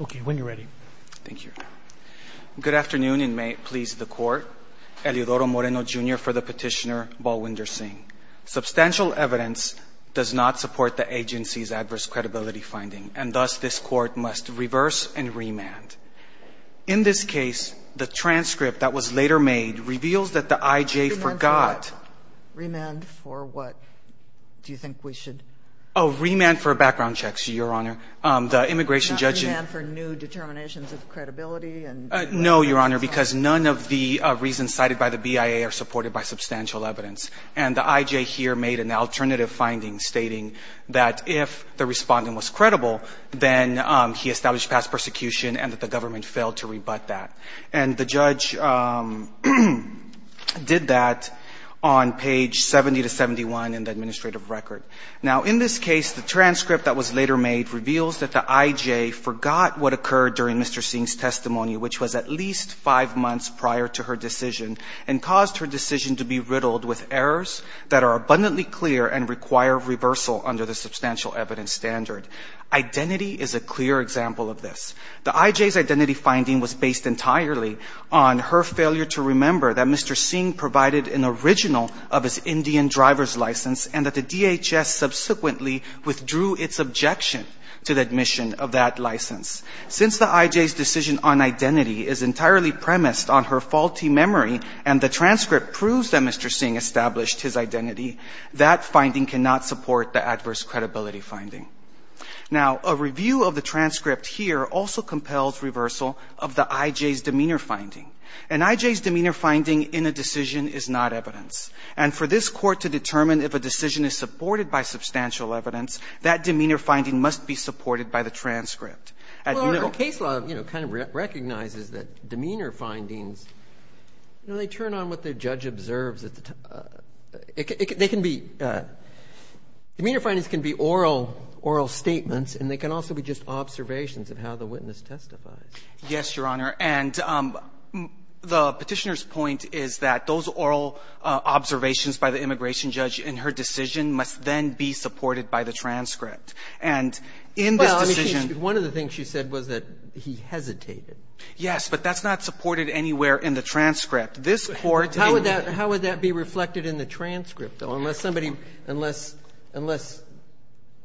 Okay, when you're ready. Thank you. Good afternoon, and may it please the court. Eliodoro Moreno Jr. for the petitioner, Balwinder Singh. Substantial evidence does not support the agency's adverse credibility finding, and thus this court must reverse and remand. In this case, the transcript that was later made reveals that the IJ forgot... Remand for what? Do you think we should... Oh, remand for new determinations of credibility and... No, Your Honor, because none of the reasons cited by the BIA are supported by substantial evidence. And the IJ here made an alternative finding stating that if the respondent was credible, then he established past persecution and that the government failed to rebut that. And the judge did that on page 70 to 71 in the administrative record. Now, in this case, the transcript that was later made reveals that the IJ forgot what occurred during Mr. Singh's testimony, which was at least five months prior to her decision, and caused her decision to be riddled with errors that are abundantly clear and require reversal under the substantial evidence standard. Identity is a clear example of this. The IJ's identity finding was based entirely on her failure to remember that Mr. Singh provided an original of his Indian identity, and it's objection to the admission of that license. Since the IJ's decision on identity is entirely premised on her faulty memory and the transcript proves that Mr. Singh established his identity, that finding cannot support the adverse credibility finding. Now, a review of the transcript here also compels reversal of the IJ's demeanor finding. An IJ's demeanor finding in a decision is not evidence. And for this Court to determine if a decision is supported by substantial evidence, that demeanor finding must be supported by the transcript. At the legal stage, the case law, you know, kind of recognizes that demeanor findings, you know, they turn on what the judge observes at the time. They can be – demeanor findings can be oral – oral statements, and they can also be just observations of how the witness testifies. Yes, Your Honor. And the Petitioner's point is that those oral observations by the immigration judge in her decision must then be supported by the transcript. And in this decision – Well, I mean, she – one of the things she said was that he hesitated. Yes, but that's not supported anywhere in the transcript. This Court – How would that – how would that be reflected in the transcript, though, unless somebody – unless – unless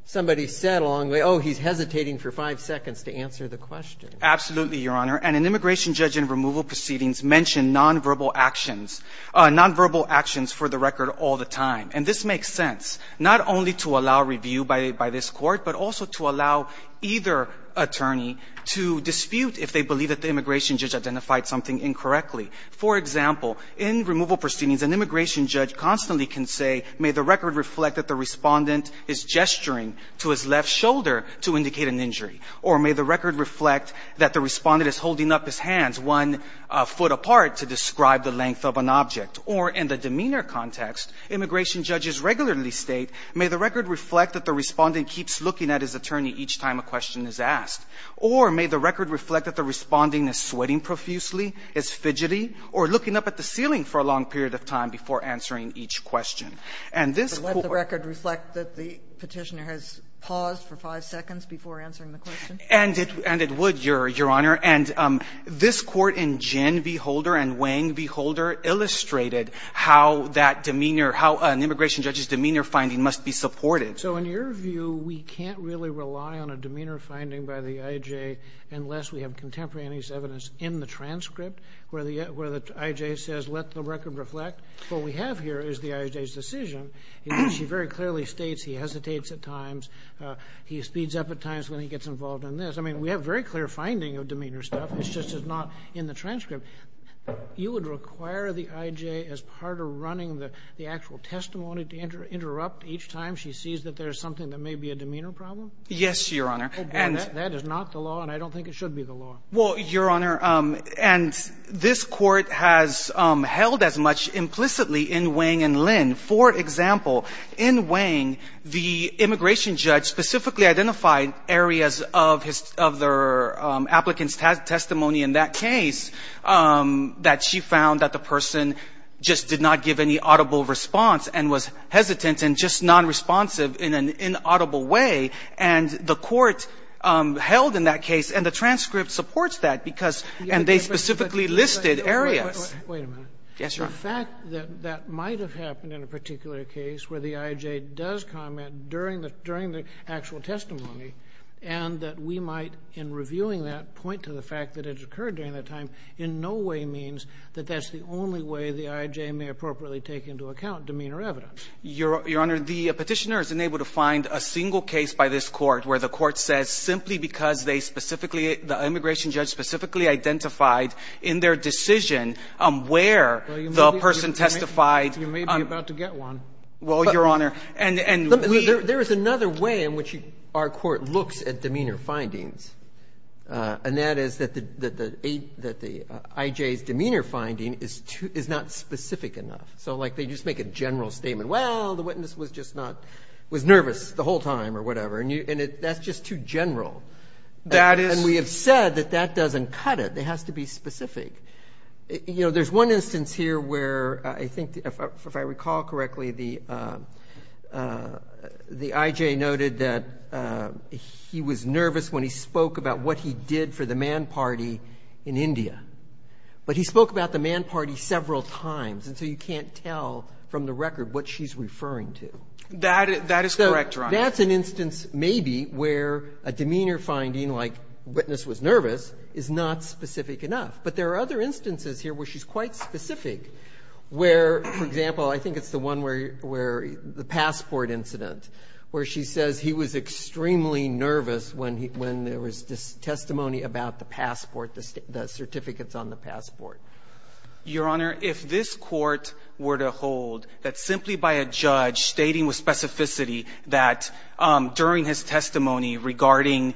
somebody said along the way, oh, he's hesitating for five seconds to answer the question? Absolutely, Your Honor. And an immigration judge in removal proceedings mentioned nonverbal actions – nonverbal actions for the record all the time. And this makes sense, not only to allow review by this Court, but also to allow either attorney to dispute if they believe that the immigration judge identified something incorrectly. For example, in removal proceedings, an immigration judge constantly can say, may the record reflect that the Respondent is gesturing to his left shoulder to indicate an injury? Or may the record reflect that the Respondent is holding up his hands one foot apart to describe the length of an object? Or in the demeanor context, immigration judges regularly state, may the record reflect that the Respondent keeps looking at his attorney each time a question is asked? Or may the record reflect that the Respondent is sweating profusely, is fidgety, or looking up at the ceiling for a long period of time before answering each question? And this Court – Has paused for five seconds before answering the question? And it would, Your Honor. And this Court in Gin v. Holder and Wang v. Holder illustrated how that demeanor – how an immigration judge's demeanor finding must be supported. So in your view, we can't really rely on a demeanor finding by the I.J. unless we have contemporaneous evidence in the transcript where the I.J. says, let the record reflect. What we have here is the I.J.'s decision. She very clearly states he hesitates at times, he speeds up at times when he gets involved in this. I mean, we have very clear finding of demeanor stuff. It's just not in the transcript. You would require the I.J. as part of running the actual testimony to interrupt each time she sees that there's something that may be a demeanor problem? Yes, Your Honor. That is not the law, and I don't think it should be the law. Well, Your Honor, and this Court has held as much implicitly in Wang and Lin. For example, in Wang, the immigration judge specifically identified areas of his – of their applicant's testimony in that case that she found that the person just did not give any audible response and was hesitant and just nonresponsive in an inaudible way, and the Court held in that case, and the transcript supports that because the I.J. does comment during the actual testimony and that we might, in reviewing that, point to the fact that it occurred during that time in no way means that that's the only way the I.J. may appropriately take into account demeanor evidence. Your Honor, the Petitioner is unable to find a single case by this Court where the applicant identified in their decision where the person testified. Well, you may be about to get one. Well, Your Honor, and we – There is another way in which our Court looks at demeanor findings, and that is that the I.J.'s demeanor finding is not specific enough. So, like, they just make a general statement, well, the witness was just not – was nervous the whole time or whatever, and that's just too general. That is – It has to be specific. You know, there's one instance here where I think, if I recall correctly, the I.J. noted that he was nervous when he spoke about what he did for the man party in India, but he spoke about the man party several times, and so you can't tell from the record what she's referring to. That is correct, Your Honor. But that's an instance maybe where a demeanor finding like witness was nervous is not specific enough. But there are other instances here where she's quite specific, where, for example, I think it's the one where the passport incident, where she says he was extremely nervous when there was testimony about the passport, the certificates on the passport. Your Honor, if this Court were to hold that simply by a judge stating with specificity that during his testimony regarding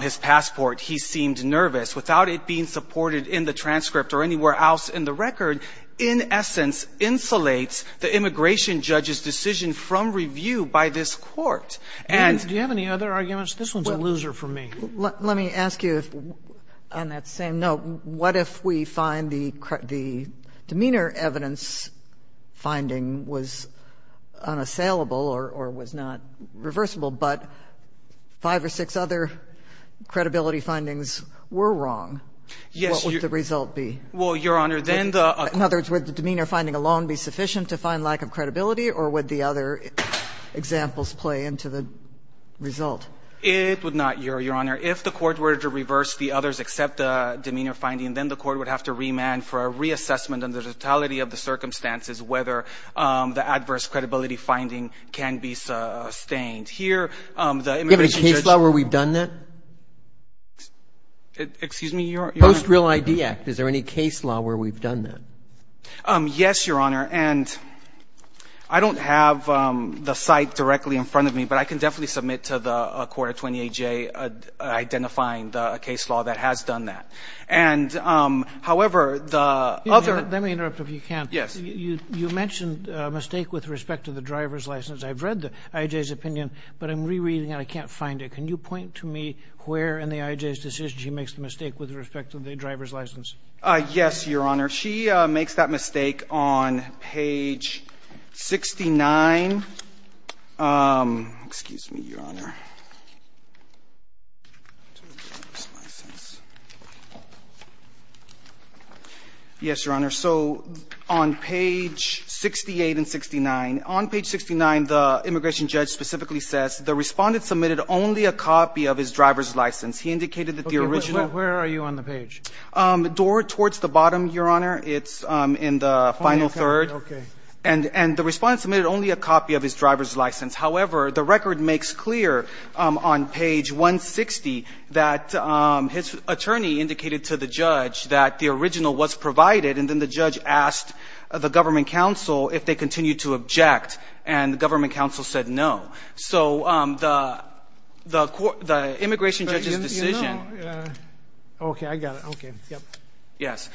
his passport he seemed nervous without it being supported in the transcript or anywhere else in the record, in essence, insulates the immigration judge's decision from review by this Court. And do you have any other arguments? This one's a loser for me. Let me ask you, on that same note, what if we find the demeanor evidence finding was unassailable or was not reversible, but five or six other credibility findings were wrong? Yes. What would the result be? Well, Your Honor, then the other one. In other words, would the demeanor finding alone be sufficient to find lack of credibility, or would the other examples play into the result? It would not, Your Honor. It would have to remand for a reassessment under the totality of the circumstances whether the adverse credibility finding can be sustained. Here, the immigration judge ---- Do you have any case law where we've done that? Excuse me, Your Honor? Post-Real ID Act. Is there any case law where we've done that? Yes, Your Honor. And I don't have the site directly in front of me, but I can definitely submit to the Court of 20AJ identifying the case law that has done that. And, however, the other ---- Let me interrupt if you can. Yes. You mentioned a mistake with respect to the driver's license. I've read the IJ's opinion, but I'm rereading it. I can't find it. Can you point to me where in the IJ's decision she makes the mistake with respect to the driver's license? Yes, Your Honor. She makes that mistake on page 69. Excuse me, Your Honor. Yes, Your Honor. So on page 68 and 69, on page 69, the immigration judge specifically says the Respondent submitted only a copy of his driver's license. He indicated that the original ---- Okay. Where are you on the page? Door towards the bottom, Your Honor. It's in the final third. Okay. And the Respondent submitted only a copy of his driver's license. However, the record makes clear on page 160 that his attorney indicated to the judge that the original was provided, and then the judge asked the government counsel if they continued to object, and the government counsel said no. So the immigration judge's decision ---- You know ---- Okay. I got it. Okay. Yes.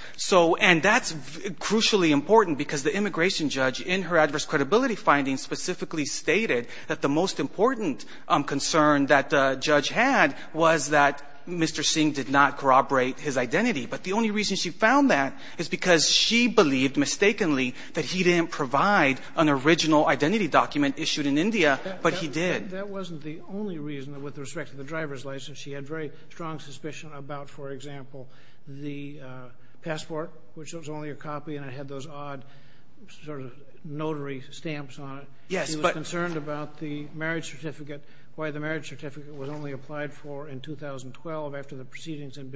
And that's crucially important because the immigration judge, in her adverse credibility findings, specifically stated that the most important concern that the judge had was that Mr. Singh did not corroborate his identity. But the only reason she found that is because she believed mistakenly that he didn't provide an original identity document issued in India, but he did. That wasn't the only reason with respect to the driver's license. She had very strong suspicion about, for example, the passport, which was only a copy, and it had those odd sort of notary stamps on it. Yes, but ---- She was concerned about the marriage certificate, why the marriage certificate was only applied for in 2012 after the proceedings had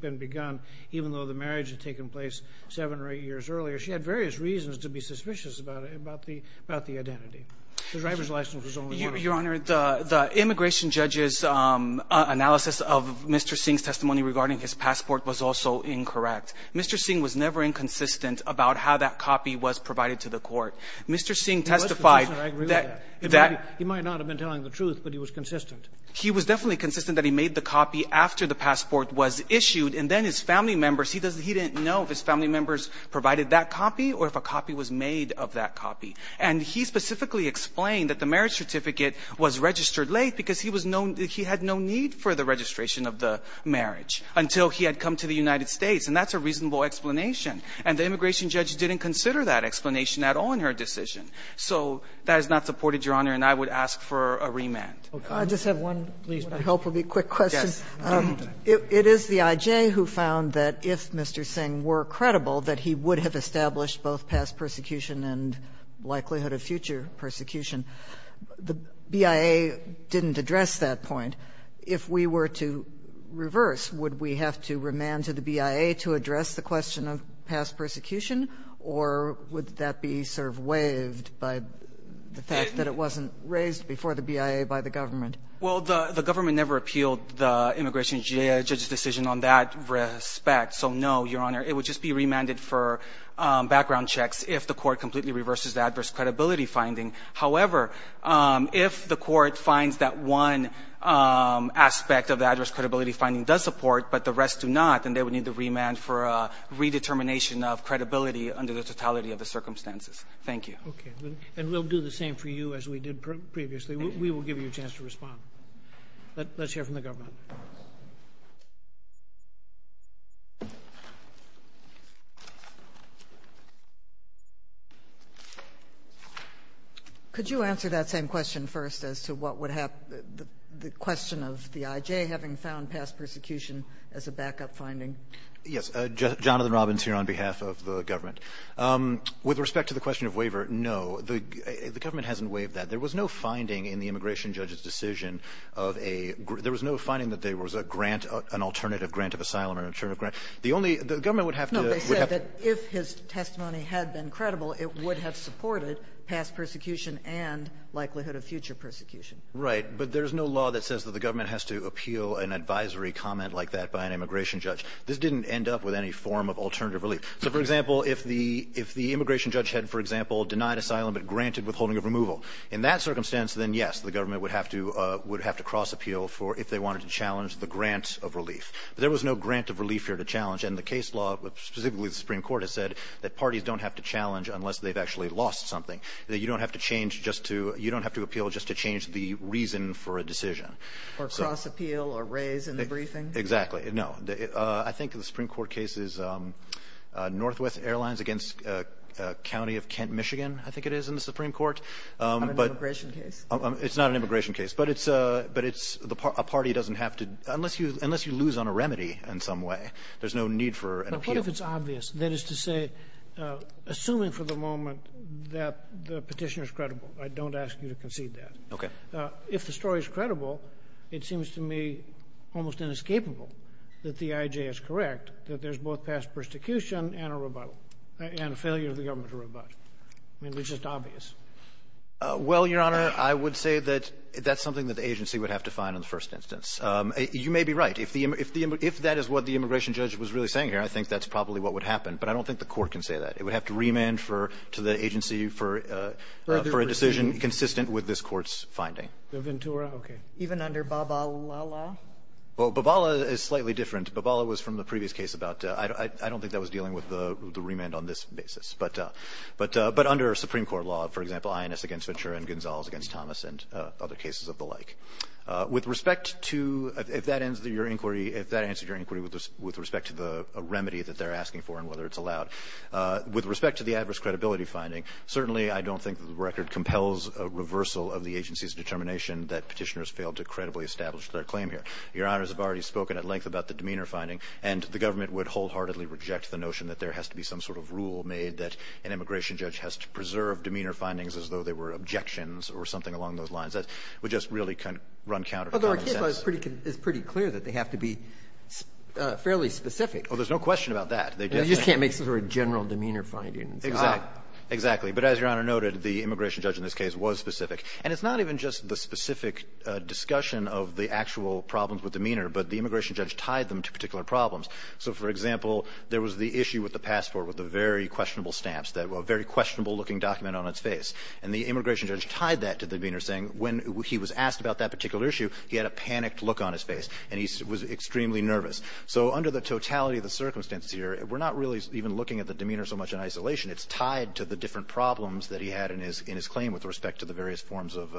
been begun, even though the marriage had taken place seven or eight years earlier. She had various reasons to be suspicious about the identity. The driver's license was only a copy. Your Honor, the immigration judge's analysis of Mr. Singh's testimony regarding his passport was also incorrect. Mr. Singh was never inconsistent about how that copy was provided to the court. Mr. Singh testified that ---- He was consistent, I agree with that. He might not have been telling the truth, but he was consistent. He was definitely consistent that he made the copy after the passport was issued, and then his family members, he didn't know if his family members provided that copy or if a copy was made of that copy. And he specifically explained that the marriage certificate was registered late because he was no ---- he had no need for the registration of the marriage until he had come to the United States. And that's a reasonable explanation. And the immigration judge didn't consider that explanation at all in her decision. So that is not supported, Your Honor, and I would ask for a remand. Roberts. I just have one, please. What I hope will be a quick question. Yes. It is the IJ who found that if Mr. Singh were credible, that he would have established both past persecution and likelihood of future persecution. The BIA didn't address that point. If we were to reverse, would we have to remand to the BIA to address the question of past persecution, or would that be sort of waived by the fact that it wasn't raised before the BIA by the government? Well, the government never appealed the immigration judge's decision on that respect. So, no, Your Honor, it would just be remanded for background checks if the court completely reverses the adverse credibility finding. However, if the court finds that one aspect of the adverse credibility finding does support, but the rest do not, then they would need the remand for a redetermination of credibility under the totality of the circumstances. Thank you. Okay. And we'll do the same for you as we did previously. We will give you a chance to respond. Let's hear from the government. Could you answer that same question first as to what would happen, the question of the I.J. having found past persecution as a backup finding? Yes. Jonathan Robbins here on behalf of the government. With respect to the question of waiver, no, the government hasn't waived that. There was no finding in the immigration judge's decision of a grant. There was no finding that there was a grant, an alternative grant of asylum or an alternative grant. The only the government would have to. No, they said that if his testimony had been credible, it would have supported past persecution and likelihood of future persecution. Right. But there's no law that says that the government has to appeal an advisory comment like that by an immigration judge. This didn't end up with any form of alternative relief. So, for example, if the immigration judge had, for example, denied asylum but granted withholding of removal, in that circumstance, then yes, the government would have to cross appeal if they wanted to challenge the grant of relief. But there was no grant of relief here to challenge. And the case law, specifically the Supreme Court, has said that parties don't have to challenge unless they've actually lost something, that you don't have to appeal just to change the reason for a decision. Or cross appeal or raise in the briefing? Exactly. No. I think the Supreme Court case is Northwest Airlines against County of Kent, Michigan, I think it is, in the Supreme Court. On an immigration case? It's not an immigration case. But it's a party doesn't have to, unless you lose on a remedy in some way, there's no need for an appeal. But what if it's obvious? That is to say, assuming for the moment that the petitioner is credible, I don't ask you to concede that. Okay. If the story is credible, it seems to me almost inescapable that the IJ is correct, that there's both past persecution and a rebuttal, and a failure of the government to rebut. I mean, it's just obvious. Well, Your Honor, I would say that that's something that the agency would have to find in the first instance. You may be right. If the immigration – if that is what the immigration judge was really saying here, I think that's probably what would happen. But I don't think the Court can say that. It would have to remand for – to the agency for a decision consistent with this Court's finding. The Ventura? Okay. Even under Babala? Well, Babala is slightly different. Babala was from the previous case about – I don't think that was dealing with the Supreme Court law, for example, INS against Ventura and Gonzales against Thomas and other cases of the like. With respect to – if that answered your inquiry, if that answered your inquiry with respect to the remedy that they're asking for and whether it's allowed, with respect to the adverse credibility finding, certainly I don't think the record compels a reversal of the agency's determination that petitioners failed to credibly establish their claim here. Your Honors have already spoken at length about the demeanor finding, and the government would wholeheartedly reject the notion that there has to be some sort of rule made that an immigration judge has to preserve demeanor findings as though they were objections or something along those lines. That would just really run counter to common sense. Although our case law is pretty clear that they have to be fairly specific. Well, there's no question about that. They just can't make sort of general demeanor findings. Exactly. But as Your Honor noted, the immigration judge in this case was specific. And it's not even just the specific discussion of the actual problems with demeanor, but the immigration judge tied them to particular problems. So, for example, there was the issue with the passport, with the very questionable stamps, that very questionable-looking document on its face. And the immigration judge tied that to the demeanor, saying when he was asked about that particular issue, he had a panicked look on his face, and he was extremely nervous. So under the totality of the circumstances here, we're not really even looking at the demeanor so much in isolation. It's tied to the different problems that he had in his claim with respect to the various forms of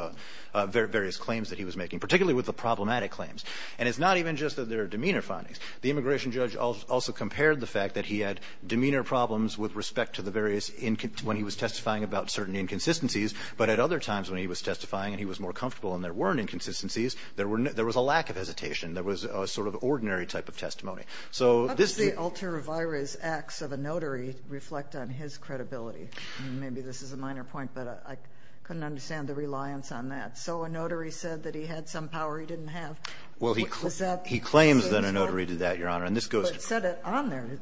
various claims that he was making, particularly with the problematic claims. And it's not even just that there are demeanor findings. The immigration judge also compared the fact that he had demeanor problems with respect to the various – when he was testifying about certain inconsistencies. But at other times when he was testifying and he was more comfortable and there weren't inconsistencies, there was a lack of hesitation. There was a sort of ordinary type of testimony. So this – How does the ultra-virus acts of a notary reflect on his credibility? I mean, maybe this is a minor point, but I couldn't understand the reliance on that. So a notary said that he had some power he didn't have. Is that – He claims that a notary did that, Your Honor. And this goes to – But it said it on there.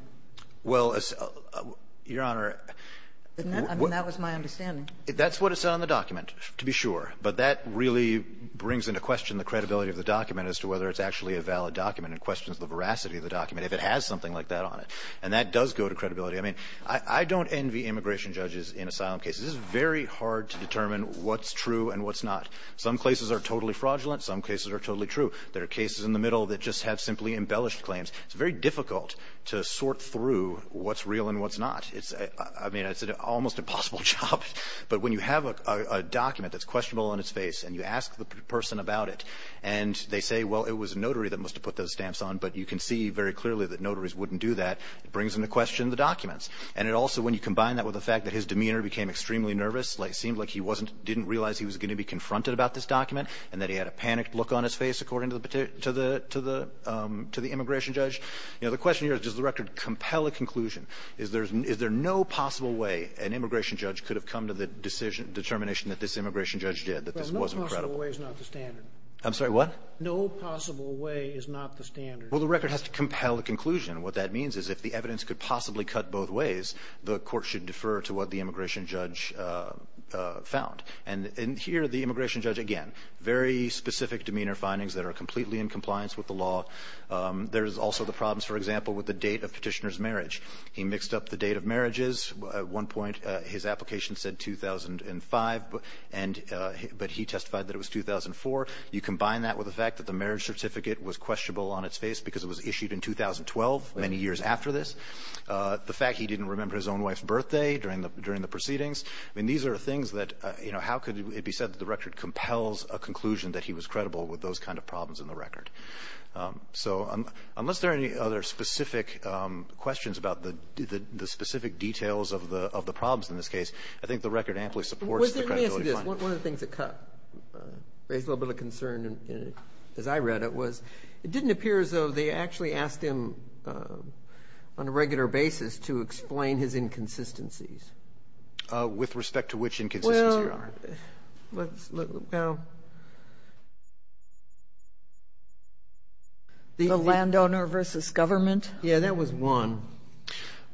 Well, Your Honor – I mean, that was my understanding. That's what it said on the document, to be sure. But that really brings into question the credibility of the document as to whether it's actually a valid document and questions the veracity of the document if it has something like that on it. And that does go to credibility. I mean, I don't envy immigration judges in asylum cases. It's very hard to determine what's true and what's not. Some cases are totally fraudulent. Some cases are totally true. There are cases in the middle that just have simply embellished claims. It's very difficult to sort through what's real and what's not. I mean, it's an almost impossible job. But when you have a document that's questionable on its face and you ask the person about it and they say, well, it was a notary that must have put those stamps on, but you can see very clearly that notaries wouldn't do that, it brings into question the documents. And it also, when you combine that with the fact that his demeanor became extremely nervous, like it seemed like he didn't realize he was going to be confronted about this document and that he had a panicked look on his face according to the immigration judge. You know, the question here is, does the record compel a conclusion? Is there no possible way an immigration judge could have come to the determination that this immigration judge did, that this wasn't credible? Well, no possible way is not the standard. I'm sorry, what? No possible way is not the standard. Well, the record has to compel a conclusion. What that means is if the evidence could possibly cut both ways, the Court should defer to what the immigration judge found. And here the immigration judge, again, very specific demeanor findings that are completely in compliance with the law. There's also the problems, for example, with the date of Petitioner's marriage. He mixed up the date of marriages. At one point his application said 2005, but he testified that it was 2004. You combine that with the fact that the marriage certificate was questionable on its face because it was issued in 2012, many years after this. The fact he didn't remember his own wife's birthday during the proceedings. I mean, these are things that, you know, how could it be said that the record compels a conclusion that he was credible with those kind of problems in the record? So unless there are any other specific questions about the specific details of the problems in this case, I think the record amply supports the credibility findings. Let me ask you this. One of the things that raised a little bit of concern, as I read it, was it didn't appear as though they actually asked him on a regular basis to explain his inconsistencies. With respect to which inconsistencies, Your Honor? Well, let's look. The landowner versus government? Yeah, that was one.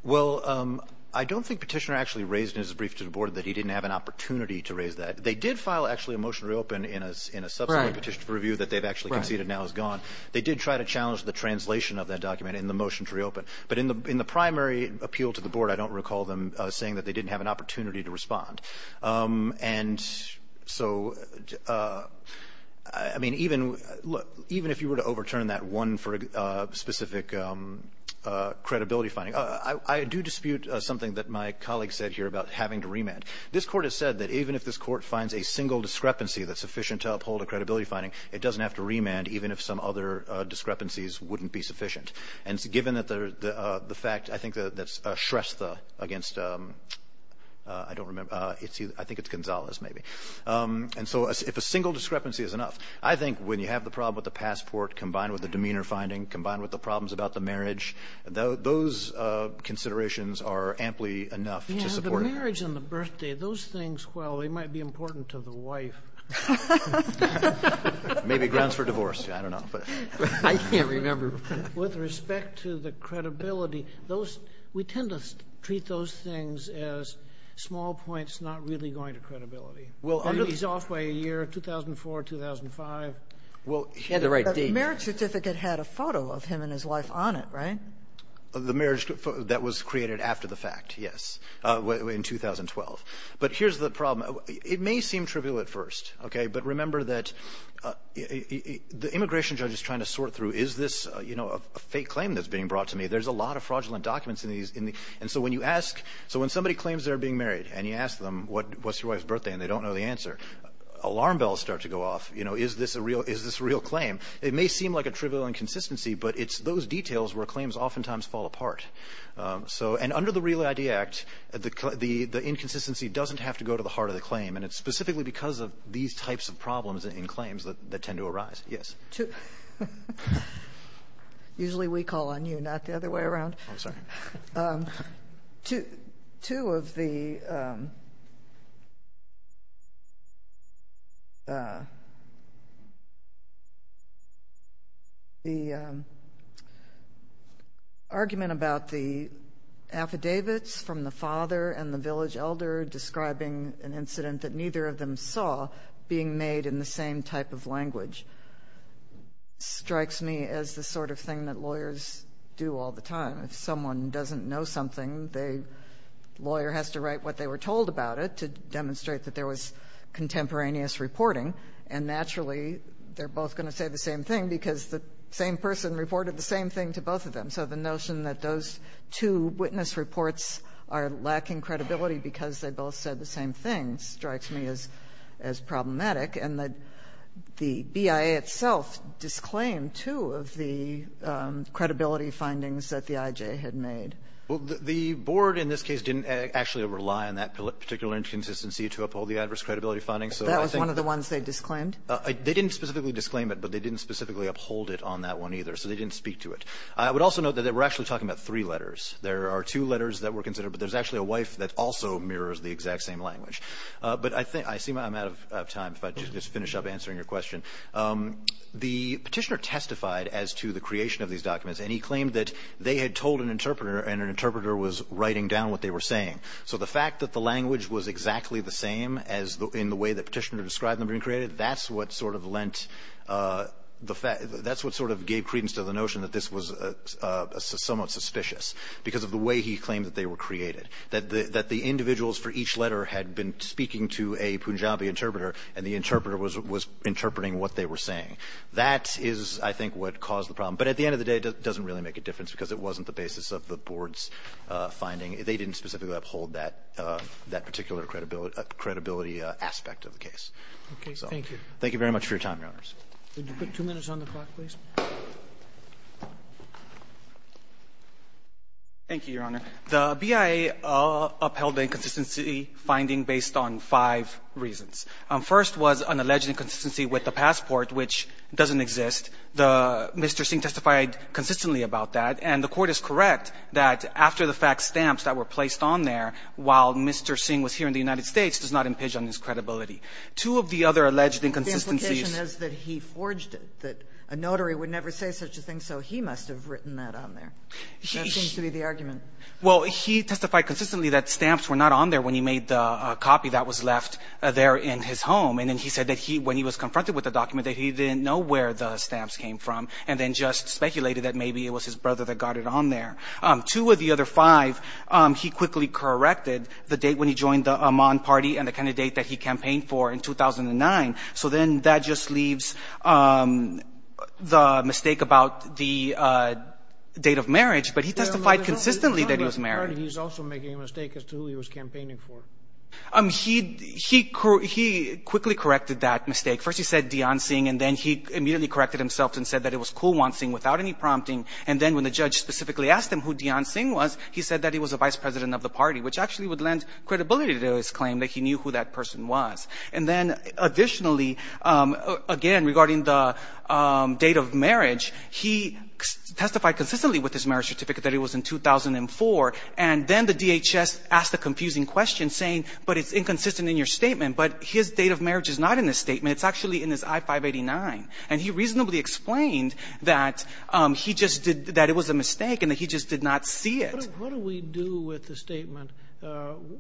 Well, I don't think Petitioner actually raised in his brief to the Board that he didn't have an opportunity to raise that. They did file actually a motion to reopen in a subsequent petition for review that they've actually conceded now is gone. They did try to challenge the translation of that document in the motion to reopen. But in the primary appeal to the Board, I don't recall them saying that they didn't have an opportunity to respond. And so, I mean, even if you were to overturn that one for a specific credibility finding, I do dispute something that my colleague said here about having to remand. This Court has said that even if this Court finds a single discrepancy that's sufficient to uphold a credibility finding, it doesn't have to remand even if some other discrepancies wouldn't be sufficient. And given the fact, I think that's Shrestha against, I don't remember, I think it's Gonzalez maybe. And so if a single discrepancy is enough, I think when you have the problem with the passport combined with the demeanor finding, combined with the problems about the marriage, those considerations are amply enough to support it. Yeah, the marriage and the birthday, those things, well, they might be important to the wife. Maybe grounds for divorce. I don't know. I can't remember. With respect to the credibility, those, we tend to treat those things as small points not really going to credibility. Well, under the soft way, a year, 2004, 2005. Well, she had the right date. The marriage certificate had a photo of him and his wife on it, right? The marriage that was created after the fact, yes, in 2012. But here's the problem. It may seem trivial at first, okay, but remember that the immigration judge is trying to sort through is this a fake claim that's being brought to me? There's a lot of fraudulent documents in these. And so when you ask, so when somebody claims they're being married and you ask them what's your wife's birthday and they don't know the answer, alarm bells start to go off. Is this a real claim? It may seem like a trivial inconsistency, but it's those details where claims oftentimes fall apart. And under the REAL ID Act, the inconsistency doesn't have to go to the heart of the claim, and it's specifically because of these types of problems in claims that tend to arise. Yes? Usually we call on you, not the other way around. I'm sorry. Two of the argument about the affidavits from the father and the village elder describing an incident that neither of them saw being made in the same type of language strikes me as the sort of thing that lawyers do all the time. If someone doesn't know something, the lawyer has to write what they were told about it to demonstrate that there was contemporaneous reporting. And naturally, they're both going to say the same thing because the same person reported the same thing to both of them. So the notion that those two witness reports are lacking credibility because they both said the same thing strikes me as problematic. And the BIA itself disclaimed two of the credibility findings that the IJ had made. Well, the board in this case didn't actually rely on that particular inconsistency to uphold the adverse credibility findings. That was one of the ones they disclaimed? They didn't specifically disclaim it, but they didn't specifically uphold it on that one either. So they didn't speak to it. I would also note that they were actually talking about three letters. There are two letters that were considered, but there's actually a wife that also mirrors the exact same language. But I think – I see I'm out of time if I just finish up answering your question. The Petitioner testified as to the creation of these documents, and he claimed that they had told an interpreter, and an interpreter was writing down what they were saying. So the fact that the language was exactly the same as the – in the way the Petitioner described them being created, that's what sort of lent the fact – that's what sort of gave credence to the notion that this was somewhat suspicious because of the way he claimed that they were created. That the individuals for each letter had been speaking to a Punjabi interpreter, and the interpreter was interpreting what they were saying. That is, I think, what caused the problem. But at the end of the day, it doesn't really make a difference because it wasn't the basis of the Board's finding. They didn't specifically uphold that particular credibility aspect of the case. So thank you. Thank you very much for your time, Your Honors. Could you put two minutes on the clock, please? Thank you, Your Honor. The BIA upheld the inconsistency finding based on five reasons. First was an alleged inconsistency with the passport, which doesn't exist. The – Mr. Singh testified consistently about that, and the Court is correct that after-the-fact stamps that were placed on there while Mr. Singh was here in the United States does not impinge on his credibility. Two of the other alleged inconsistencies – that a notary would never say such a thing, so he must have written that on there. That seems to be the argument. Well, he testified consistently that stamps were not on there when he made the copy that was left there in his home. And then he said that he – when he was confronted with the document, that he didn't know where the stamps came from and then just speculated that maybe it was his brother that got it on there. Two of the other five, he quickly corrected the date when he joined the Amman party and the kind of date that he campaigned for in 2009. So then that just leaves the mistake about the date of marriage, but he testified consistently that he was married. He's also making a mistake as to who he was campaigning for. He quickly corrected that mistake. First he said Deon Singh, and then he immediately corrected himself and said that it was Kulwant Singh without any prompting. And then when the judge specifically asked him who Deon Singh was, he said that he was a vice president of the party, which actually would lend credibility to his claim that he knew who that person was. And then additionally, again, regarding the date of marriage, he testified consistently with his marriage certificate that it was in 2004. And then the DHS asked the confusing question, saying, but it's inconsistent in your statement, but his date of marriage is not in the statement. It's actually in his I-589. And he reasonably explained that he just did – that it was a mistake and that he just did not see it. What do we do with the statement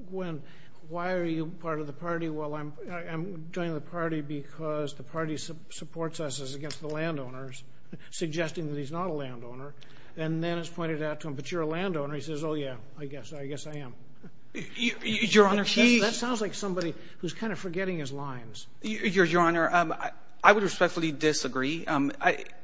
when why are you part of the party? Well, I'm joining the party because the party supports us as against the landowners, suggesting that he's not a landowner. And then it's pointed out to him, but you're a landowner. He says, oh, yeah, I guess I am. Your Honor, she – That sounds like somebody who's kind of forgetting his lines. Your Honor, I would respectfully disagree.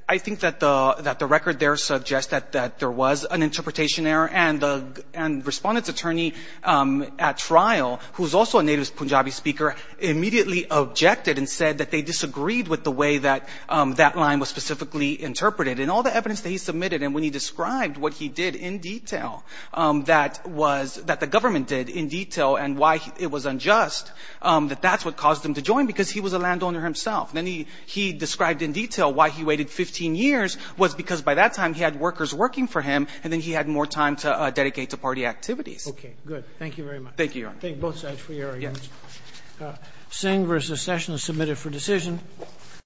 I think that the record there suggests that there was an interpretation error. And the respondent's attorney at trial, who's also a native Punjabi speaker, immediately objected and said that they disagreed with the way that that line was specifically interpreted. And all the evidence that he submitted and when he described what he did in detail, that was – that the government did in detail and why it was unjust, that that's what caused him to join because he was a landowner himself. Then he described in detail why he waited 15 years was because by that time he had workers working for him and then he had more time to dedicate to party activities. Okay, good. Thank you very much. Thank you, Your Honor. Thank both sides for your arguments. Yes. Singh v. Session is submitted for decision.